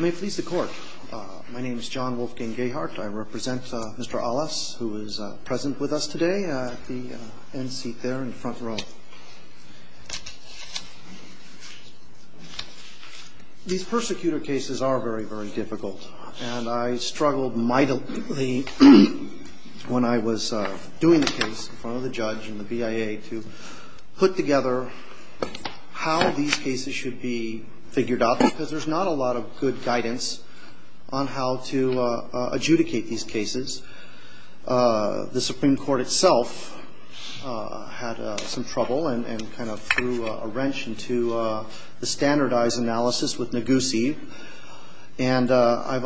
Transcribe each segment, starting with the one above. May it please the court. My name is John Wolfgang Gahart. I represent Mr. Alas, who is present with us today at the end seat there in the front row. These persecutor cases are very, very difficult, and I struggled mightily when I was doing the case in front of the judge and the BIA to put together how these cases should be figured out because there's not a lot of good guidance on how to adjudicate these cases. The Supreme Court itself had some trouble and kind of threw a wrench into the standardized analysis with Negussi. And I've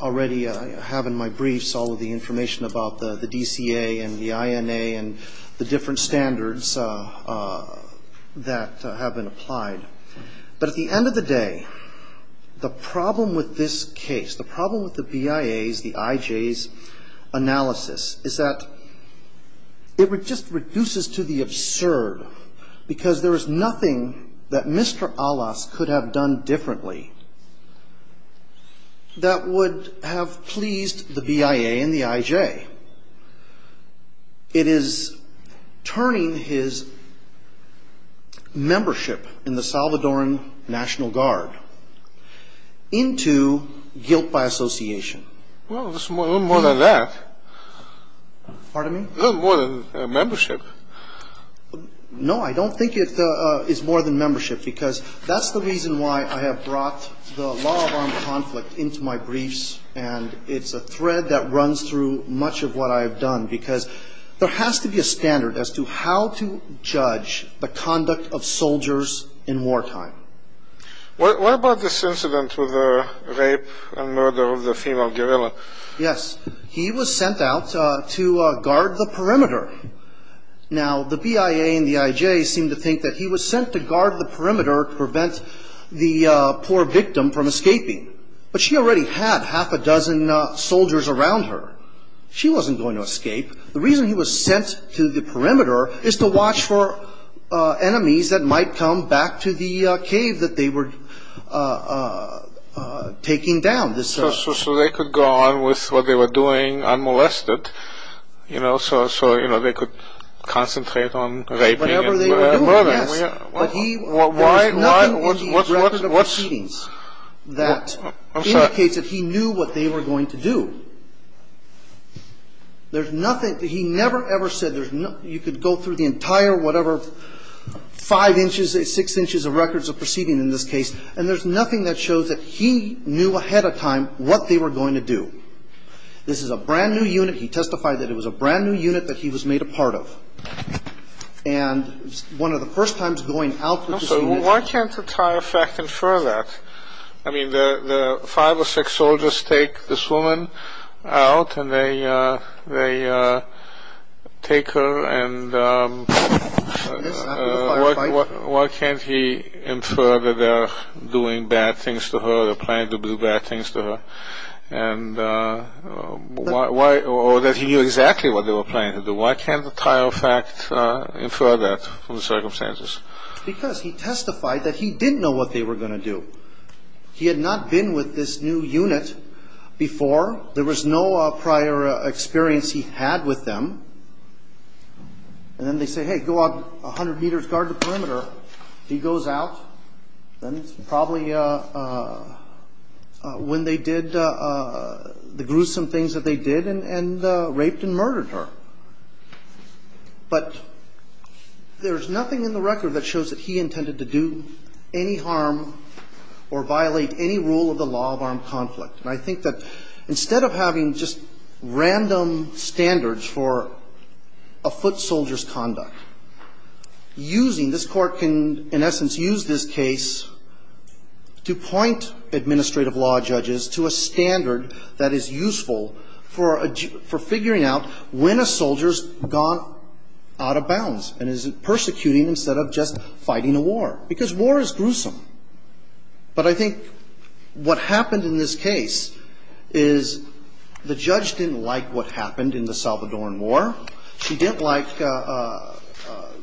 already have in my briefs all of the information about the DCA and the INA and the different standards that have been applied. But at the end of the day, the problem with this case, the problem with the BIA's, the IJ's analysis, is that it just reduces to the absurd, because there is nothing that Mr. Alas could have done differently that would have pleased the BIA and the IJ. It is turning his membership in the Salvadoran National Guard into guilt by association. Well, it's a little more than that. Pardon me? A little more than membership. No, I don't think it is more than membership, because that's the reason why I have brought the law of armed conflict into my briefs, and it's a thread that runs through much of what I have done, because there has to be a standard as to how to judge the conduct of soldiers in wartime. What about this incident with the rape and murder of the female guerrilla? Yes. He was sent out to guard the perimeter. Now, the BIA and the IJ seem to think that he was sent to guard the perimeter to prevent the poor victim from escaping, but she already had half a dozen soldiers around her. She wasn't going to escape. The reason he was sent to the perimeter is to watch for enemies that might come back to the cave that they were taking down. So they could go on with what they were doing unmolested, you know, so they could concentrate on raping and murdering? Yes. There is nothing in these records of proceedings that indicates that he knew what they were going to do. There's nothing. He never, ever said you could go through the entire whatever five inches, six inches of records of proceedings in this case, and there's nothing that shows that he knew ahead of time what they were going to do. This is a brand-new unit. He testified that it was a brand-new unit that he was made a part of. And one of the first times going out with this unit… So why can't the tire fact infer that? I mean, the five or six soldiers take this woman out, and they take her, and why can't he infer that they're doing bad things to her, they're planning to do bad things to her, or that he knew exactly what they were planning to do? Why can't the tire fact infer that from the circumstances? Because he testified that he didn't know what they were going to do. He had not been with this new unit before. There was no prior experience he had with them. And then they say, hey, go out 100 meters, guard the perimeter. He goes out. Then it's probably when they did the gruesome things that they did and raped and murdered her. But there is nothing in the record that shows that he intended to do any harm or violate any rule of the law of armed conflict. And I think that instead of having just random standards for a foot soldier's conduct, using this Court can, in essence, use this case to point administrative law judges to a standard that is useful for figuring out when a soldier's gone out of bounds and is persecuting instead of just fighting a war. Because war is gruesome. But I think what happened in this case is the judge didn't like what happened in the Salvadoran War. She didn't like the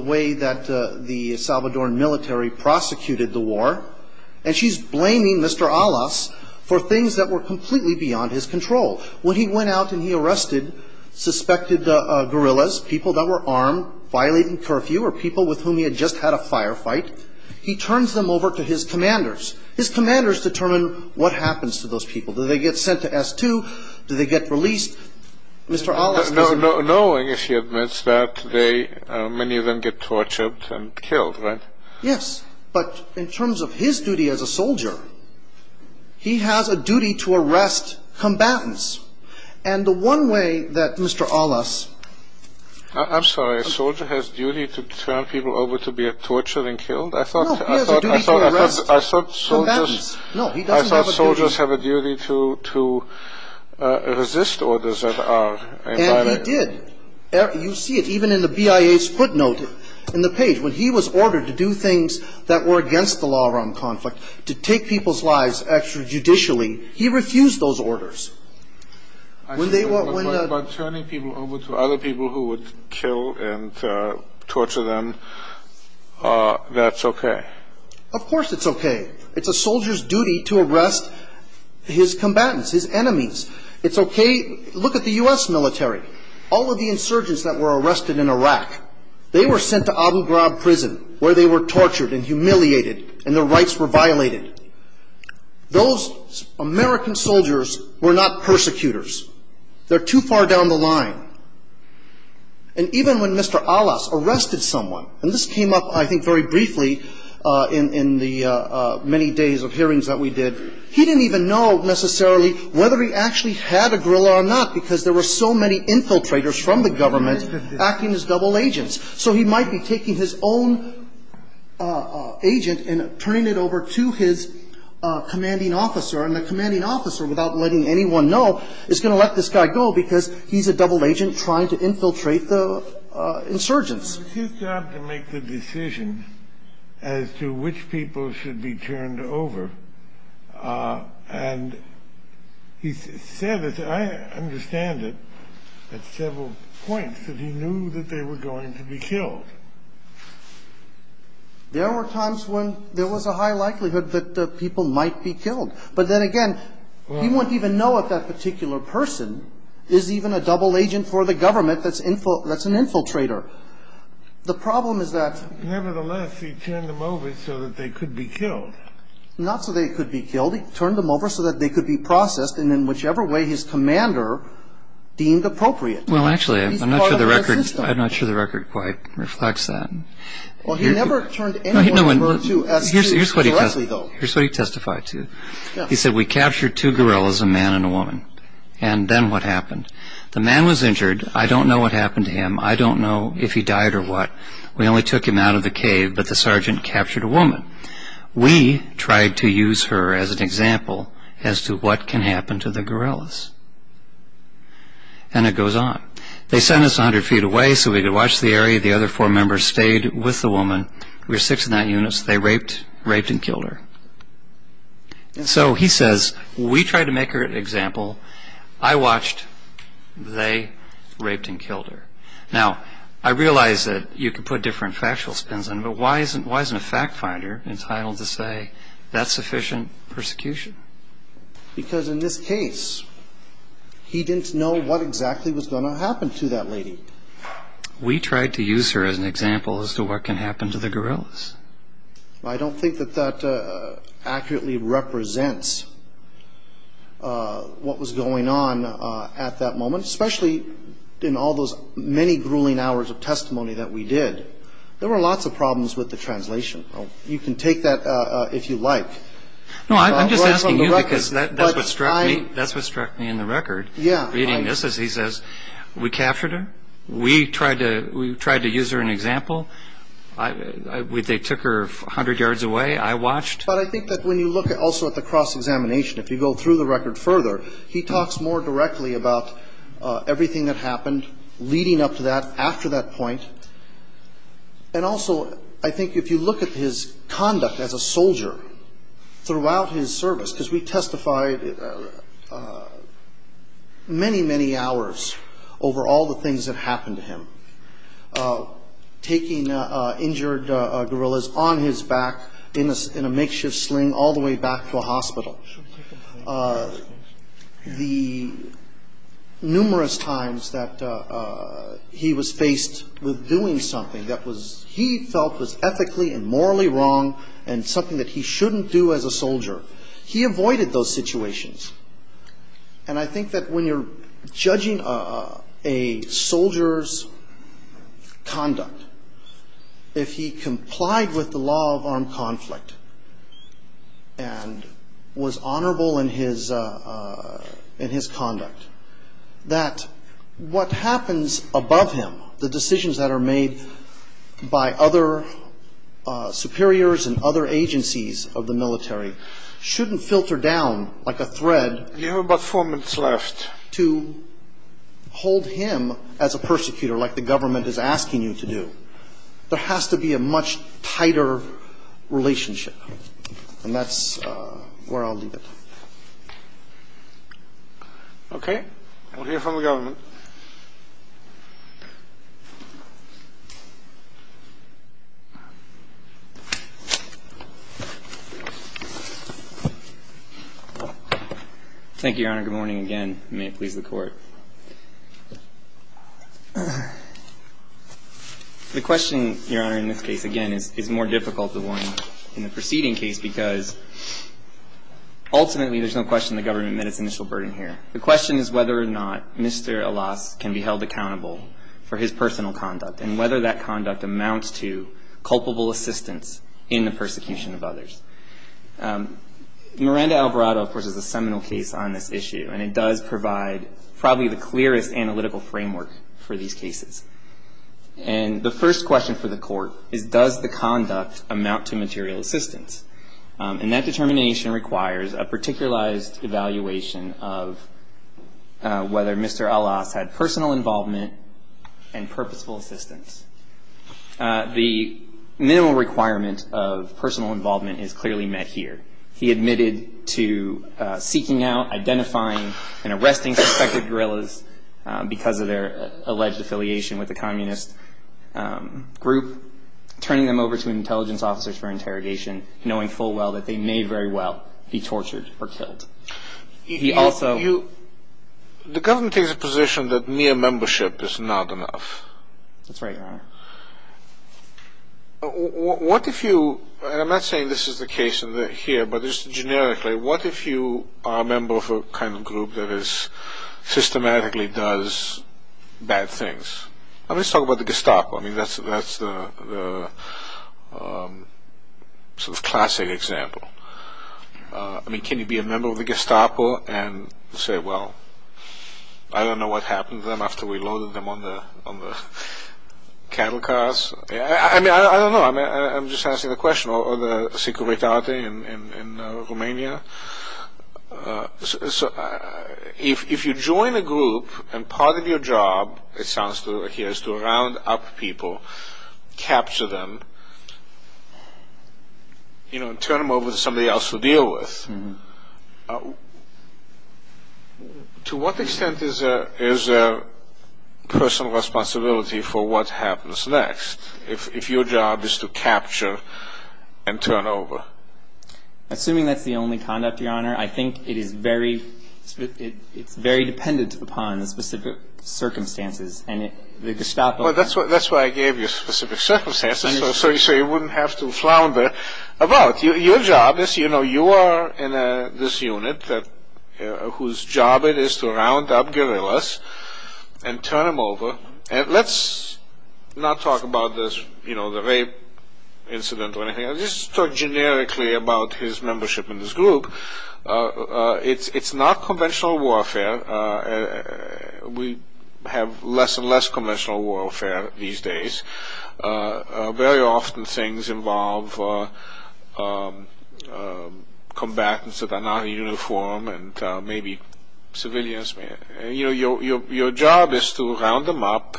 way that the Salvadoran military prosecuted the war. And she's blaming Mr. Alas for things that were completely beyond his control. When he went out and he arrested suspected guerrillas, people that were armed, violating curfew or people with whom he had just had a firefight, he turns them over to his commanders. His commanders determine what happens to those people. Do they get sent to S2? Do they get released? Mr. Alas doesn't know. Knowing, if he admits that, many of them get tortured and killed, right? Yes. But in terms of his duty as a soldier, he has a duty to arrest combatants. And the one way that Mr. Alas – I'm sorry. A soldier has a duty to turn people over to be tortured and killed? No, he has a duty to arrest combatants. No, he doesn't have a duty. I thought soldiers have a duty to resist orders that are – And he did. You see it even in the BIA's footnote in the page. When he was ordered to do things that were against the law around conflict, to take people's lives extrajudicially, he refused those orders. I see. But turning people over to other people who would kill and torture them, that's okay? Of course it's okay. It's a soldier's duty to arrest his combatants, his enemies. It's okay – look at the U.S. military. All of the insurgents that were arrested in Iraq, they were sent to Abu Ghraib prison where they were tortured and humiliated and their rights were violated. Those American soldiers were not persecutors. They're too far down the line. And even when Mr. Alas arrested someone – and this came up, I think, very briefly in the many days of hearings that we did – he didn't even know necessarily whether he actually had a guerrilla or not because there were so many infiltrators from the government acting as double agents. So he might be taking his own agent and turning it over to his commanding officer, and the commanding officer, without letting anyone know, is going to let this guy go because he's a double agent trying to infiltrate the insurgents. It's his job to make the decision as to which people should be turned over. And he said – I understand it at several points – that he knew that they were going to be killed. There were times when there was a high likelihood that people might be killed. But then again, he wouldn't even know if that particular person is even a double agent for the government that's an infiltrator. The problem is that – Nevertheless, he turned them over so that they could be killed. Not so they could be killed. He turned them over so that they could be processed, and in whichever way his commander deemed appropriate. Well, actually, I'm not sure the record quite reflects that. Well, he never turned anyone over to us directly, though. Here's what he testified to. He said, we captured two guerrillas, a man and a woman. And then what happened? The man was injured. I don't know what happened to him. I don't know if he died or what. We only took him out of the cave, but the sergeant captured a woman. We tried to use her as an example as to what can happen to the guerrillas. And it goes on. They sent us 100 feet away so we could watch the area. The other four members stayed with the woman. We were six and nine units. They raped, raped and killed her. And so he says, we tried to make her an example. I watched. They raped and killed her. Now, I realize that you could put different factual spins on it, but why isn't a fact finder entitled to say that's sufficient persecution? Because in this case, he didn't know what exactly was going to happen to that lady. We tried to use her as an example as to what can happen to the guerrillas. I don't think that that accurately represents what was going on at that moment, especially in all those many grueling hours of testimony that we did. There were lots of problems with the translation. You can take that if you like. No, I'm just asking you because that's what struck me in the record. Reading this, he says, we captured her. We tried to use her an example. They took her 100 yards away. I watched. But I think that when you look also at the cross-examination, if you go through the record further, he talks more directly about everything that happened leading up to that, after that point. And also, I think if you look at his conduct as a soldier throughout his service, because we testified many, many hours over all the things that happened to him, taking injured guerrillas on his back in a makeshift sling all the way back to a hospital. The numerous times that he was faced with doing something that he felt was ethically and morally wrong and something that he shouldn't do as a soldier, he avoided those situations. And I think that when you're judging a soldier's conduct, if he complied with the law of armed conflict and was honorable in his conduct, that what happens above him, the decisions that are made by other superiors and other agencies of the military, shouldn't filter down like a thread to hold him as a persecutor like the government is asking you to do. There has to be a much tighter relationship. And that's where I'll leave it. Okay. We'll hear from the government. Thank you, Your Honor. Good morning again. May it please the Court. The question, Your Honor, in this case, again, is more difficult than the one in the preceding case because ultimately there's no question the government met its initial burden here. The question is whether or not Mr. Alas can be held accountable for his personal conduct and whether that conduct amounts to culpable assistance in the persecution of others. Miranda Alvarado, of course, is a seminal case on this issue, and it does provide probably the clearest analytical framework for these cases. And the first question for the Court is, does the conduct amount to material assistance? And that determination requires a particularized evaluation of whether Mr. Alas had personal involvement and purposeful assistance. The minimal requirement of personal involvement is clearly met here. He admitted to seeking out, identifying, and arresting suspected guerrillas because of their alleged affiliation with the communist group, turning them over to intelligence officers for interrogation, knowing full well that they may very well be tortured or killed. He also... The government takes a position that mere membership is not enough. That's right, Your Honor. What if you, and I'm not saying this is the case here, but just generically, what if you are a member of a kind of group that systematically does bad things? Let's talk about the Gestapo. I mean, that's the sort of classic example. I mean, can you be a member of the Gestapo and say, well, I don't know what happened to them after we loaded them on the cattle cars? I mean, I don't know. I'm just asking the question. Or the Securitate in Romania. If you join a group and part of your job, it sounds like here, is to round up people, capture them, you know, and turn them over to somebody else to deal with, to what extent is there personal responsibility for what happens next if your job is to capture and turn over? Assuming that's the only conduct, Your Honor, I think it is very dependent upon the specific circumstances. Well, that's why I gave you specific circumstances, so you wouldn't have to flounder about. Your job is, you know, you are in this unit whose job it is to round up guerrillas and turn them over. Let's not talk about this, you know, the rape incident or anything. Let's talk generically about his membership in this group. It's not conventional warfare. We have less and less conventional warfare these days. Very often things involve combatants that are not in uniform and maybe civilians. You know, your job is to round them up,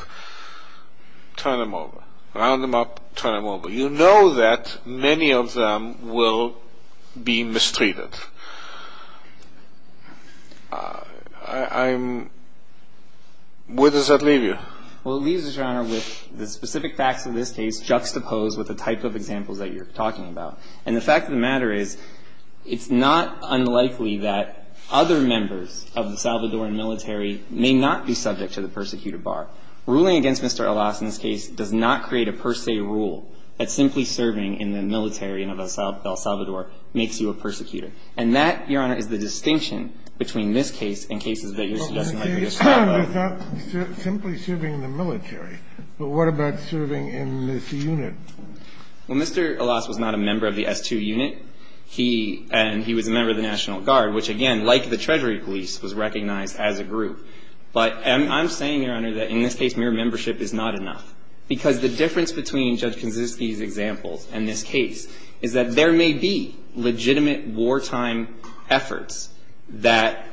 turn them over. Round them up, turn them over. You know that many of them will be mistreated. Where does that leave you? Well, it leaves us, Your Honor, with the specific facts of this case juxtaposed with the type of examples that you're talking about. And the fact of the matter is it's not unlikely that other members of the Salvadoran military may not be subject to the persecuted bar. Ruling against Mr. Elas in this case does not create a per se rule that simply serving in the military in El Salvador makes you a persecutor. And that, Your Honor, is the distinction between this case and cases that you're suggesting might be the same. Well, you're saying it's not simply serving in the military. But what about serving in this unit? Well, Mr. Elas was not a member of the S2 unit. He was a member of the National Guard, which, again, like the Treasury police, was recognized as a group. But I'm saying, Your Honor, that in this case mere membership is not enough. Because the difference between Judge Kaczynski's examples and this case is that there may be legitimate wartime efforts that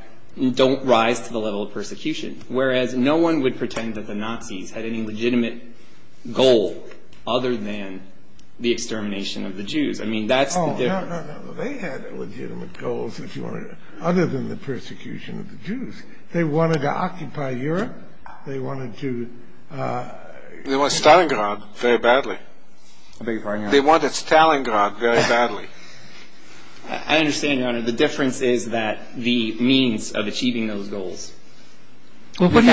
don't rise to the level of persecution, whereas no one would pretend that the Nazis had any legitimate goal other than the extermination of the Jews. I mean, that's the difference. Oh, no, no, no. They had legitimate goals, if you want to know, other than the persecution of the Jews. They wanted to occupy Europe. They wanted to do it. They wanted Stalingrad very badly. They wanted Stalingrad very badly. I understand, Your Honor. The difference is that the means of achieving those goals. Well, what do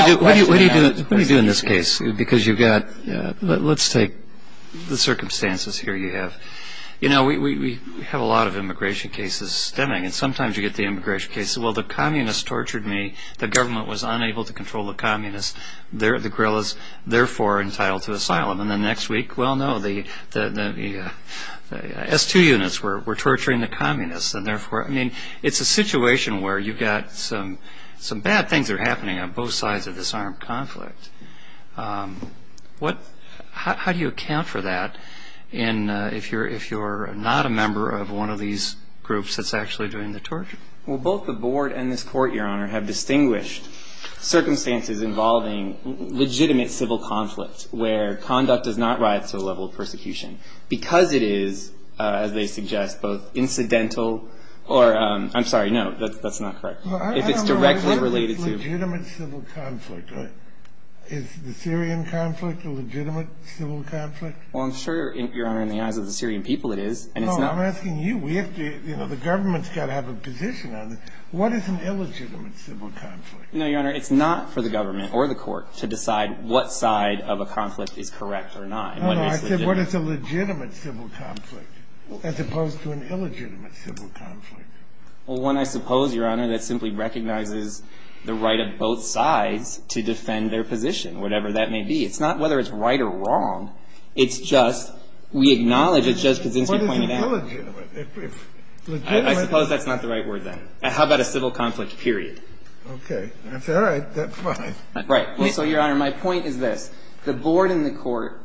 you do in this case? Because you've got, let's take the circumstances here you have. You know, we have a lot of immigration cases stemming. And sometimes you get the immigration cases. Well, the communists tortured me. The government was unable to control the communists. The guerrillas, therefore, are entitled to asylum. And then next week, well, no, the S2 units were torturing the communists. And therefore, I mean, it's a situation where you've got some bad things that are happening on both sides of this armed conflict. How do you account for that if you're not a member of one of these groups that's actually doing the torture? Well, both the board and this court, Your Honor, have distinguished circumstances involving legitimate civil conflict where conduct does not rise to the level of persecution. Because it is, as they suggest, both incidental or ‑‑ I'm sorry, no, that's not correct. If it's directly related to ‑‑ I don't know if it's legitimate civil conflict. Is the Syrian conflict a legitimate civil conflict? Well, I'm sure, Your Honor, in the eyes of the Syrian people it is. No, I'm asking you. You know, the government's got to have a position on it. What is an illegitimate civil conflict? No, Your Honor, it's not for the government or the court to decide what side of a conflict is correct or not. No, no, I said what is a legitimate civil conflict as opposed to an illegitimate civil conflict? Well, one, I suppose, Your Honor, that simply recognizes the right of both sides to defend their position, whatever that may be. It's not whether it's right or wrong. It's just we acknowledge it just because things are pointed out. I suppose that's not the right word then. How about a civil conflict, period? Okay. That's all right. That's fine. Right. Well, so, Your Honor, my point is this. The board in the court,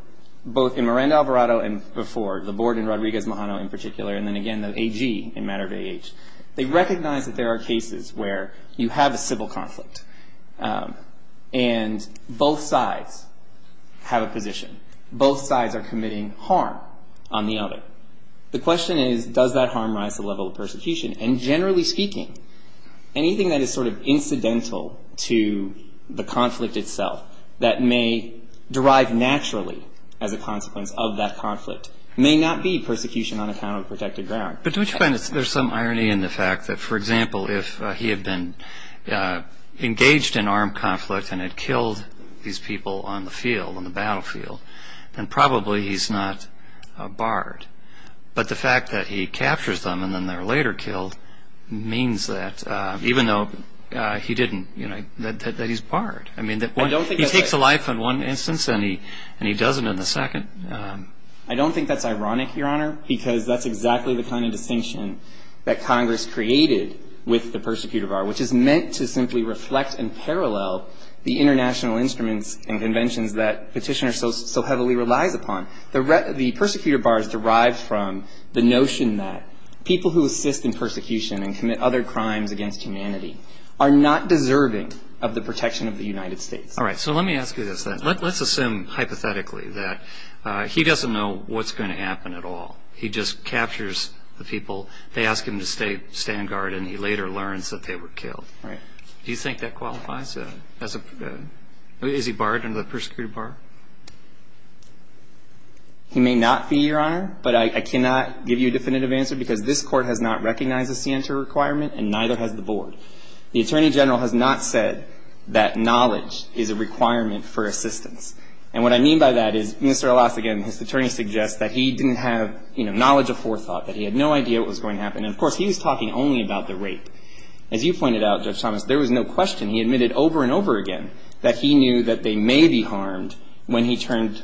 both in Miranda Alvarado and before, the board in Rodriguez Mahano in particular, and then again the AG in matter of age, they recognize that there are cases where you have a civil conflict and both sides have a position. Both sides are committing harm on the other. The question is, does that harm rise to the level of persecution? And generally speaking, anything that is sort of incidental to the conflict itself that may derive naturally as a consequence of that conflict may not be persecution on account of protected ground. But don't you find there's some irony in the fact that, for example, if he had been engaged in armed conflict and had killed these people on the field, on the ground, but the fact that he captures them and then they're later killed means that even though he didn't, you know, that he's barred. I mean, he takes a life in one instance and he does it in the second. I don't think that's ironic, Your Honor, because that's exactly the kind of distinction that Congress created with the persecutor bar, which is meant to simply reflect and parallel the international instruments and conventions that Petitioner so heavily relies upon. The persecutor bar is derived from the notion that people who assist in persecution and commit other crimes against humanity are not deserving of the protection of the United States. All right. So let me ask you this then. Let's assume hypothetically that he doesn't know what's going to happen at all. He just captures the people. They ask him to stay on guard, and he later learns that they were killed. Do you think that qualifies as a perjury? Is he barred under the persecutor bar? He may not be, Your Honor, but I cannot give you a definitive answer because this Court has not recognized the scienter requirement and neither has the Board. The Attorney General has not said that knowledge is a requirement for assistance. And what I mean by that is Mr. Elassigan, his attorney, suggests that he didn't have, you know, knowledge of forethought, that he had no idea what was going to happen. And, of course, he was talking only about the rape. As you pointed out, Judge Thomas, there was no question. He admitted over and over again that he knew that they may be harmed when he turned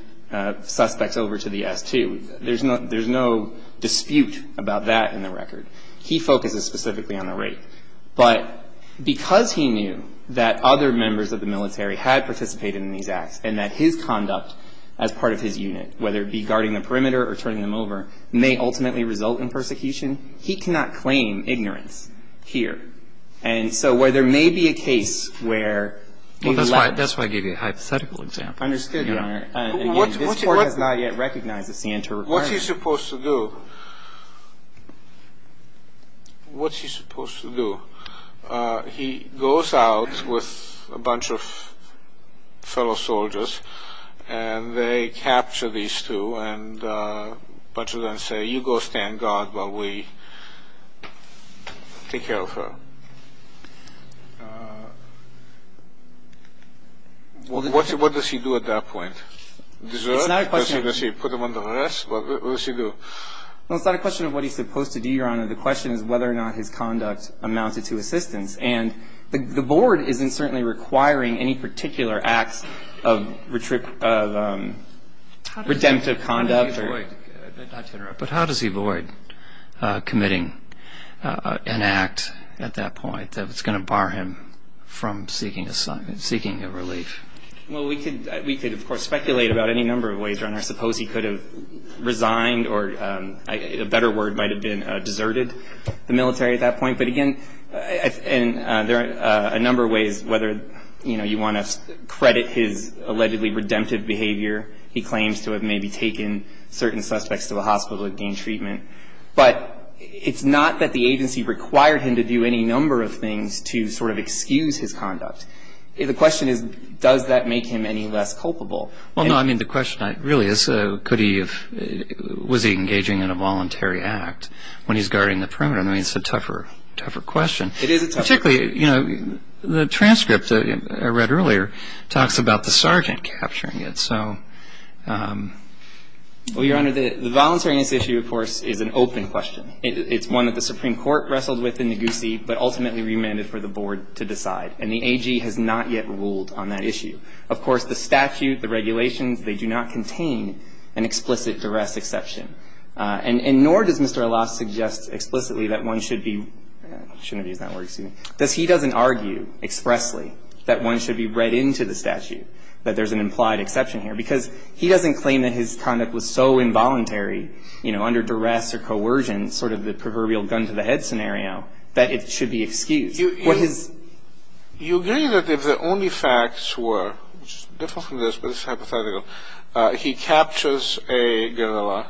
suspects over to the S2. There's no dispute about that in the record. He focuses specifically on the rape. But because he knew that other members of the military had participated in these acts and that his conduct as part of his unit, whether it be guarding the perimeter or turning them over, may ultimately result in persecution, he cannot claim ignorance here. And so where there may be a case where the alleged... Well, that's why I gave you a hypothetical example. Understood, Your Honor. And, again, this Court has not yet recognized the scienter requirement. What's he supposed to do? What's he supposed to do? He goes out with a bunch of fellow soldiers and they capture these two and a bunch of other people and say, you go stand guard while we take care of her. What does he do at that point? Put them under arrest? What does he do? Well, it's not a question of what he's supposed to do, Your Honor. The question is whether or not his conduct amounted to assistance. And the Board isn't certainly requiring any particular acts of redemptive conduct. But how does he avoid committing an act at that point that's going to bar him from seeking a relief? Well, we could, of course, speculate about any number of ways, Your Honor. I suppose he could have resigned, or a better word might have been deserted the military at that point. But, again, there are a number of ways, whether you want to credit his allegedly redemptive behavior, he claims to have maybe taken certain suspects to a hospital and gained treatment. But it's not that the agency required him to do any number of things to sort of excuse his conduct. The question is, does that make him any less culpable? Well, no, I mean, the question really is, was he engaging in a voluntary act when he's guarding the perimeter? I mean, it's a tougher question. It is a tougher question. Particularly, you know, the transcript I read earlier talks about the sergeant capturing it. So, well, Your Honor, the voluntariness issue, of course, is an open question. It's one that the Supreme Court wrestled with in Negussie, but ultimately remanded for the Board to decide. And the AG has not yet ruled on that issue. Of course, the statute, the regulations, they do not contain an explicit duress exception. And nor does Mr. Alas suggest explicitly that one should be – I shouldn't have used that word. Excuse me. Does he – he doesn't argue expressly that one should be read into the statute, that there's an implied exception here? Because he doesn't claim that his conduct was so involuntary, you know, under duress or coercion, sort of the proverbial gun to the head scenario, that it should be excused. What his – You agree that if the only facts were – which is different from this, but it's hypothetical – he captures a guerrilla,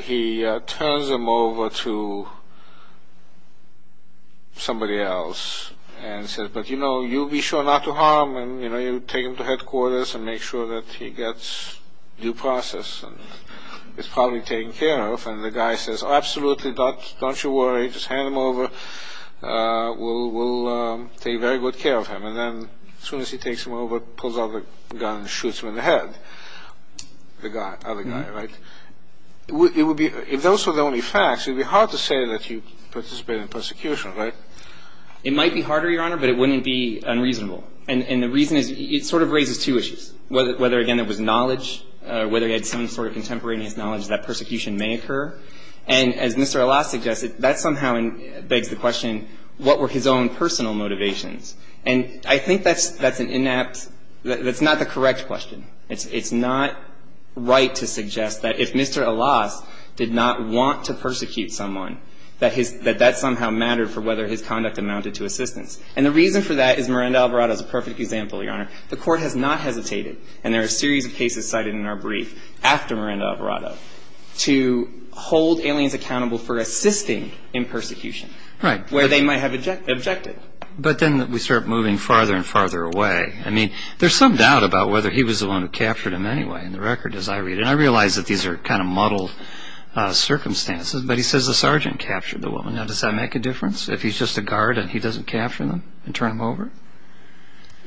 he turns him over to somebody else and says, but, you know, you be sure not to harm him. You know, you take him to headquarters and make sure that he gets due process. It's probably taken care of. And the guy says, absolutely, don't you worry, just hand him over. We'll take very good care of him. And then as soon as he takes him over, pulls out the gun and shoots him in the head, the other guy, right? It would be – if those were the only facts, it would be hard to say that you participated in persecution, right? It might be harder, Your Honor, but it wouldn't be unreasonable. And the reason is it sort of raises two issues, whether, again, it was knowledge, whether he had some sort of contemporaneous knowledge that persecution may occur. And as Mr. Alas suggested, that somehow begs the question, what were his own personal motivations? And I think that's an inept – that's not the correct question. It's not right to suggest that if Mr. Alas did not want to persecute someone, that that somehow mattered for whether his conduct amounted to assistance. And the reason for that is Miranda-Alvarado is a perfect example, Your Honor. The Court has not hesitated, and there are a series of cases cited in our brief after Miranda-Alvarado, to hold aliens accountable for assisting in persecution where they might have objected. But then we start moving farther and farther away. I mean, there's some doubt about whether he was the one who captured him anyway, in the record, as I read it. And I realize that these are kind of muddled circumstances, but he says the sergeant captured the woman. Now, does that make a difference, if he's just a guard and he doesn't capture them and turn them over?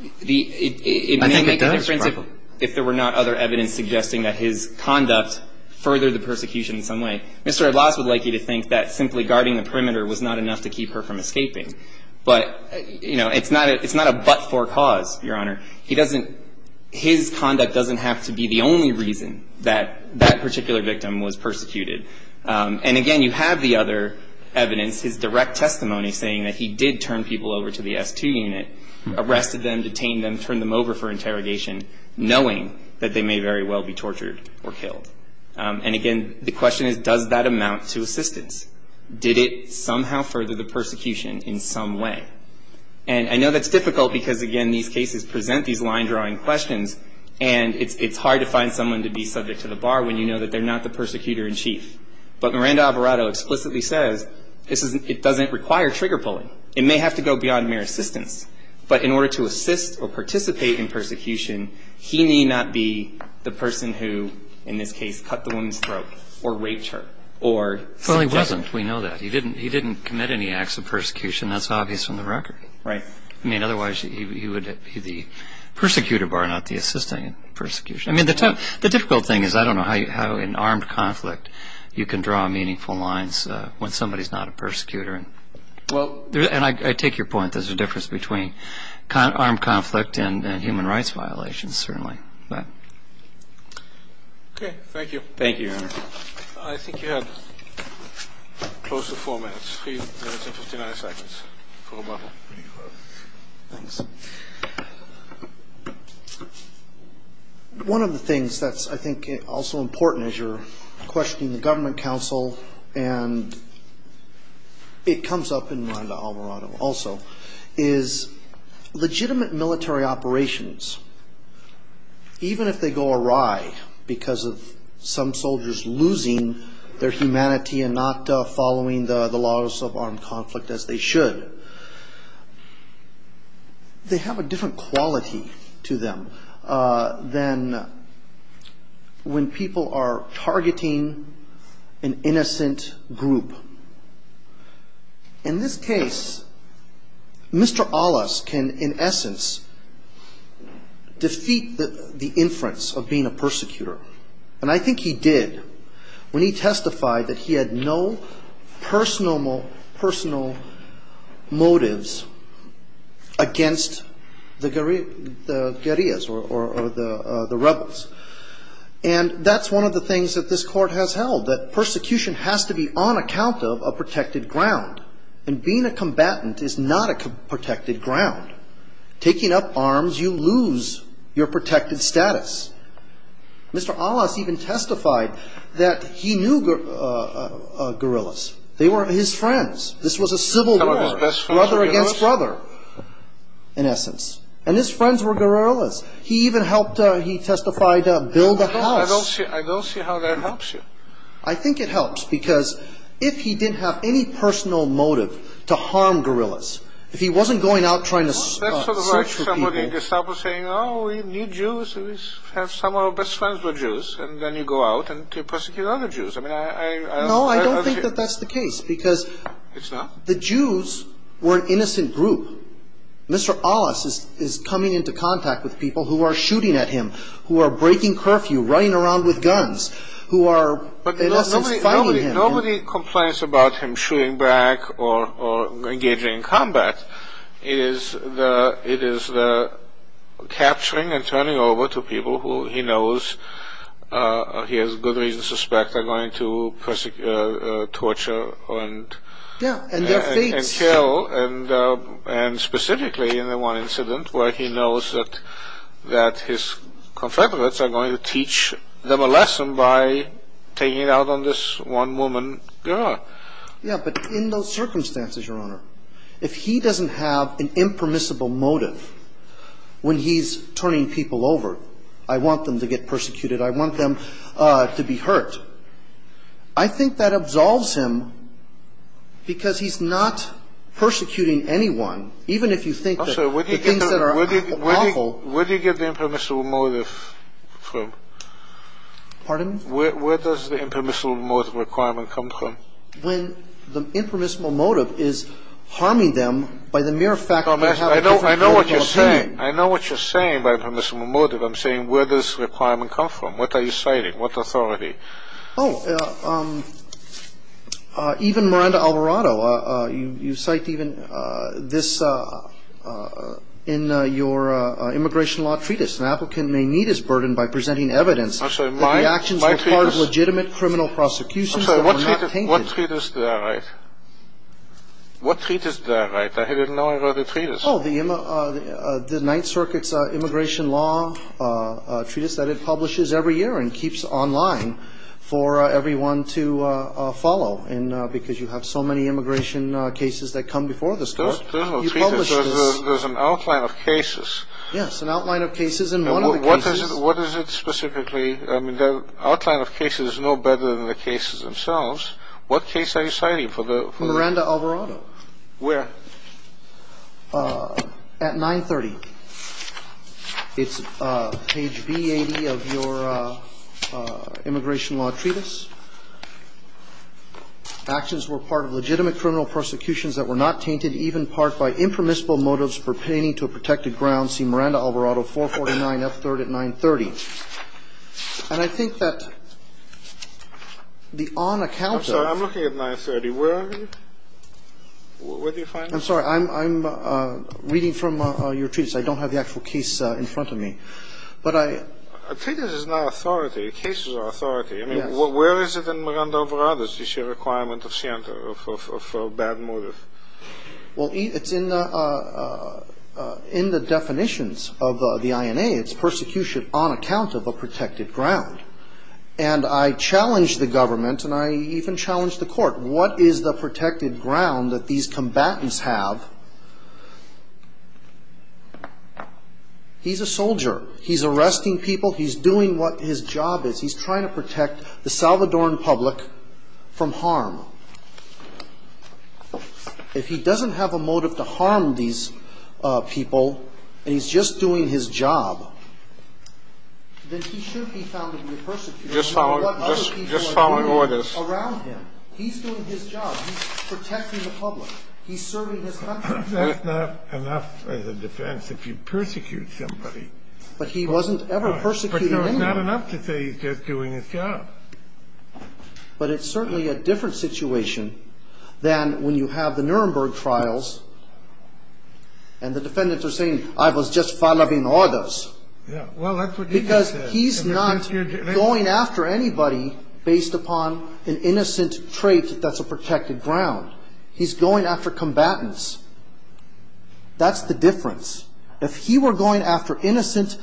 I think it does. It may make a difference if there were not other evidence suggesting that his conduct furthered the persecution in some way. Mr. Alas would like you to think that simply guarding the perimeter was not enough to keep her from escaping. But, you know, it's not a but-for cause, Your Honor. He doesn't – his conduct doesn't have to be the only reason that that particular victim was persecuted. And, again, you have the other evidence, his direct testimony saying that he did turn people over to the S2 unit, arrested them, detained them, turned them over for interrogation, knowing that they may very well be tortured or killed. And, again, the question is, does that amount to assistance? Did it somehow further the persecution in some way? And I know that's difficult because, again, these cases present these line-drawing questions, and it's hard to find someone to be subject to the bar when you know that they're not the persecutor-in-chief. But Miranda Alvarado explicitly says it doesn't require trigger-pulling. It may have to go beyond mere assistance. But in order to assist or participate in persecution, he need not be the person who, in this case, cut the woman's throat or raped her or subjected her. Well, he wasn't. We know that. He didn't commit any acts of persecution. That's obvious from the record. Right. I mean, otherwise, he would be the persecutor bar, not the assistant in persecution. I mean, the difficult thing is I don't know how in armed conflict you can draw meaningful lines when somebody's not a persecutor. And I take your point. There's a difference between armed conflict and human rights violations, certainly. Okay. Thank you. Thank you, Your Honor. I think you have close to four minutes, three minutes and 59 seconds for rebuttal. Thanks. One of the things that's, I think, also important as you're questioning the government counsel, and it comes up in Miranda-Alvarado also, is legitimate military operations, even if they go awry because of some soldiers losing their humanity and not following the laws of armed conflict as they should, they have a different quality to them than when people are targeting an innocent group. In this case, Mr. Alas can, in essence, defeat the inference of being a persecutor. And I think he did when he testified that he had no personal motives against the guerrillas. And that's one of the things that this Court has held, that persecution has to be on account of a protected ground. And being a combatant is not a protected ground. Taking up arms, you lose your protected status. Mr. Alas even testified that he knew guerrillas. They were his friends. This was a civil war, brother against brother, in essence. And his friends were guerrillas. He even helped, he testified, build a house. I don't see how that helps you. I think it helps, because if he didn't have any personal motive to harm guerrillas, if he wasn't going out trying to search for people... That's sort of like some of the disciples saying, oh, we need Jews, some of our best friends were Jews, and then you go out and persecute other Jews. No, I don't think that that's the case, because the Jews were an innocent group. Mr. Alas is coming into contact with people who are shooting at him, who are breaking curfew, running around with guns, who are, in essence, fighting him. Nobody complains about him shooting back or engaging in combat. It is the capturing and turning over to people who he knows, he has good reason to suspect, are going to torture and kill. And specifically in the one incident where he knows that his confederates are going to teach them a lesson by taking it out on this one woman. Yeah, but in those circumstances, Your Honor, if he doesn't have an impermissible motive when he's turning people over, I want them to get persecuted, I want them to be hurt, I think that absolves him because he's not persecuting anyone, even if you think that the things that are awful. Where do you get the impermissible motive from? Pardon? Where does the impermissible motive requirement come from? When the impermissible motive is harming them by the mere fact that they have a different critical opinion. I know what you're saying. I know what you're saying by impermissible motive. I'm saying where does the requirement come from? What are you citing? What authority? Oh, even Miranda Alvarado, you cite even this in your immigration law treatise. An applicant may meet his burden by presenting evidence that the actions required legitimate criminal prosecution. I'm sorry, what treatise did I write? What treatise did I write? I didn't know I wrote a treatise. Oh, the Ninth Circuit's immigration law treatise that it publishes every year and keeps online for everyone to follow because you have so many immigration cases that come before this. There's no treatise, there's an outline of cases. Yes, an outline of cases in one of the cases. What is it specifically? I mean, the outline of cases is no better than the cases themselves. What case are you citing? Miranda Alvarado. Where? At 930. It's page B80 of your immigration law treatise. Actions were part of legitimate criminal prosecutions that were not tainted, even part by impermissible motives pertaining to a protected grounds, see Miranda Alvarado, 449F3rd at 930. And I think that the on account of the... I'm sorry, I'm looking at 930. Where are you? Where do you find it? I'm sorry, I'm reading from your treatise. I don't have the actual case in front of me. But I... A treatise is not authority. Cases are authority. I mean, where is it in Miranda Alvarado's requirement of bad motive? Well, it's in the definitions of the INA. It's persecution on account of a protected ground. And I challenged the government and I even challenged the court. What is the protected ground that these combatants have? He's a soldier. He's arresting people. He's doing what his job is. He's trying to protect the Salvadoran public from harm. If he doesn't have a motive to harm these people and he's just doing his job, then he should be found to be a persecutor. Just following orders. He's doing his job. He's protecting the public. He's serving his country. That's not enough as a defense if you persecute somebody. But he wasn't ever persecuting anyone. But it's not enough to say he's just doing his job. But it's certainly a different situation than when you have the Nuremberg trials and the defendants are saying, I was just following orders. Yeah, well, that's what you just said. He's not going after anybody based upon an innocent trait that's a protected ground. He's going after combatants. That's the difference. If he were going after innocent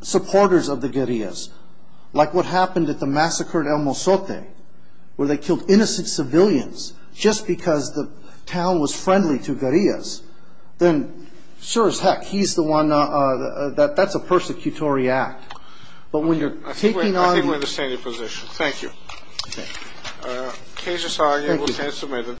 supporters of the guerrillas, like what happened at the massacre at El Mosote, where they killed innocent civilians just because the town was friendly to guerrillas, then sure as heck, that's a persecutory act. I think we understand your position. Thank you.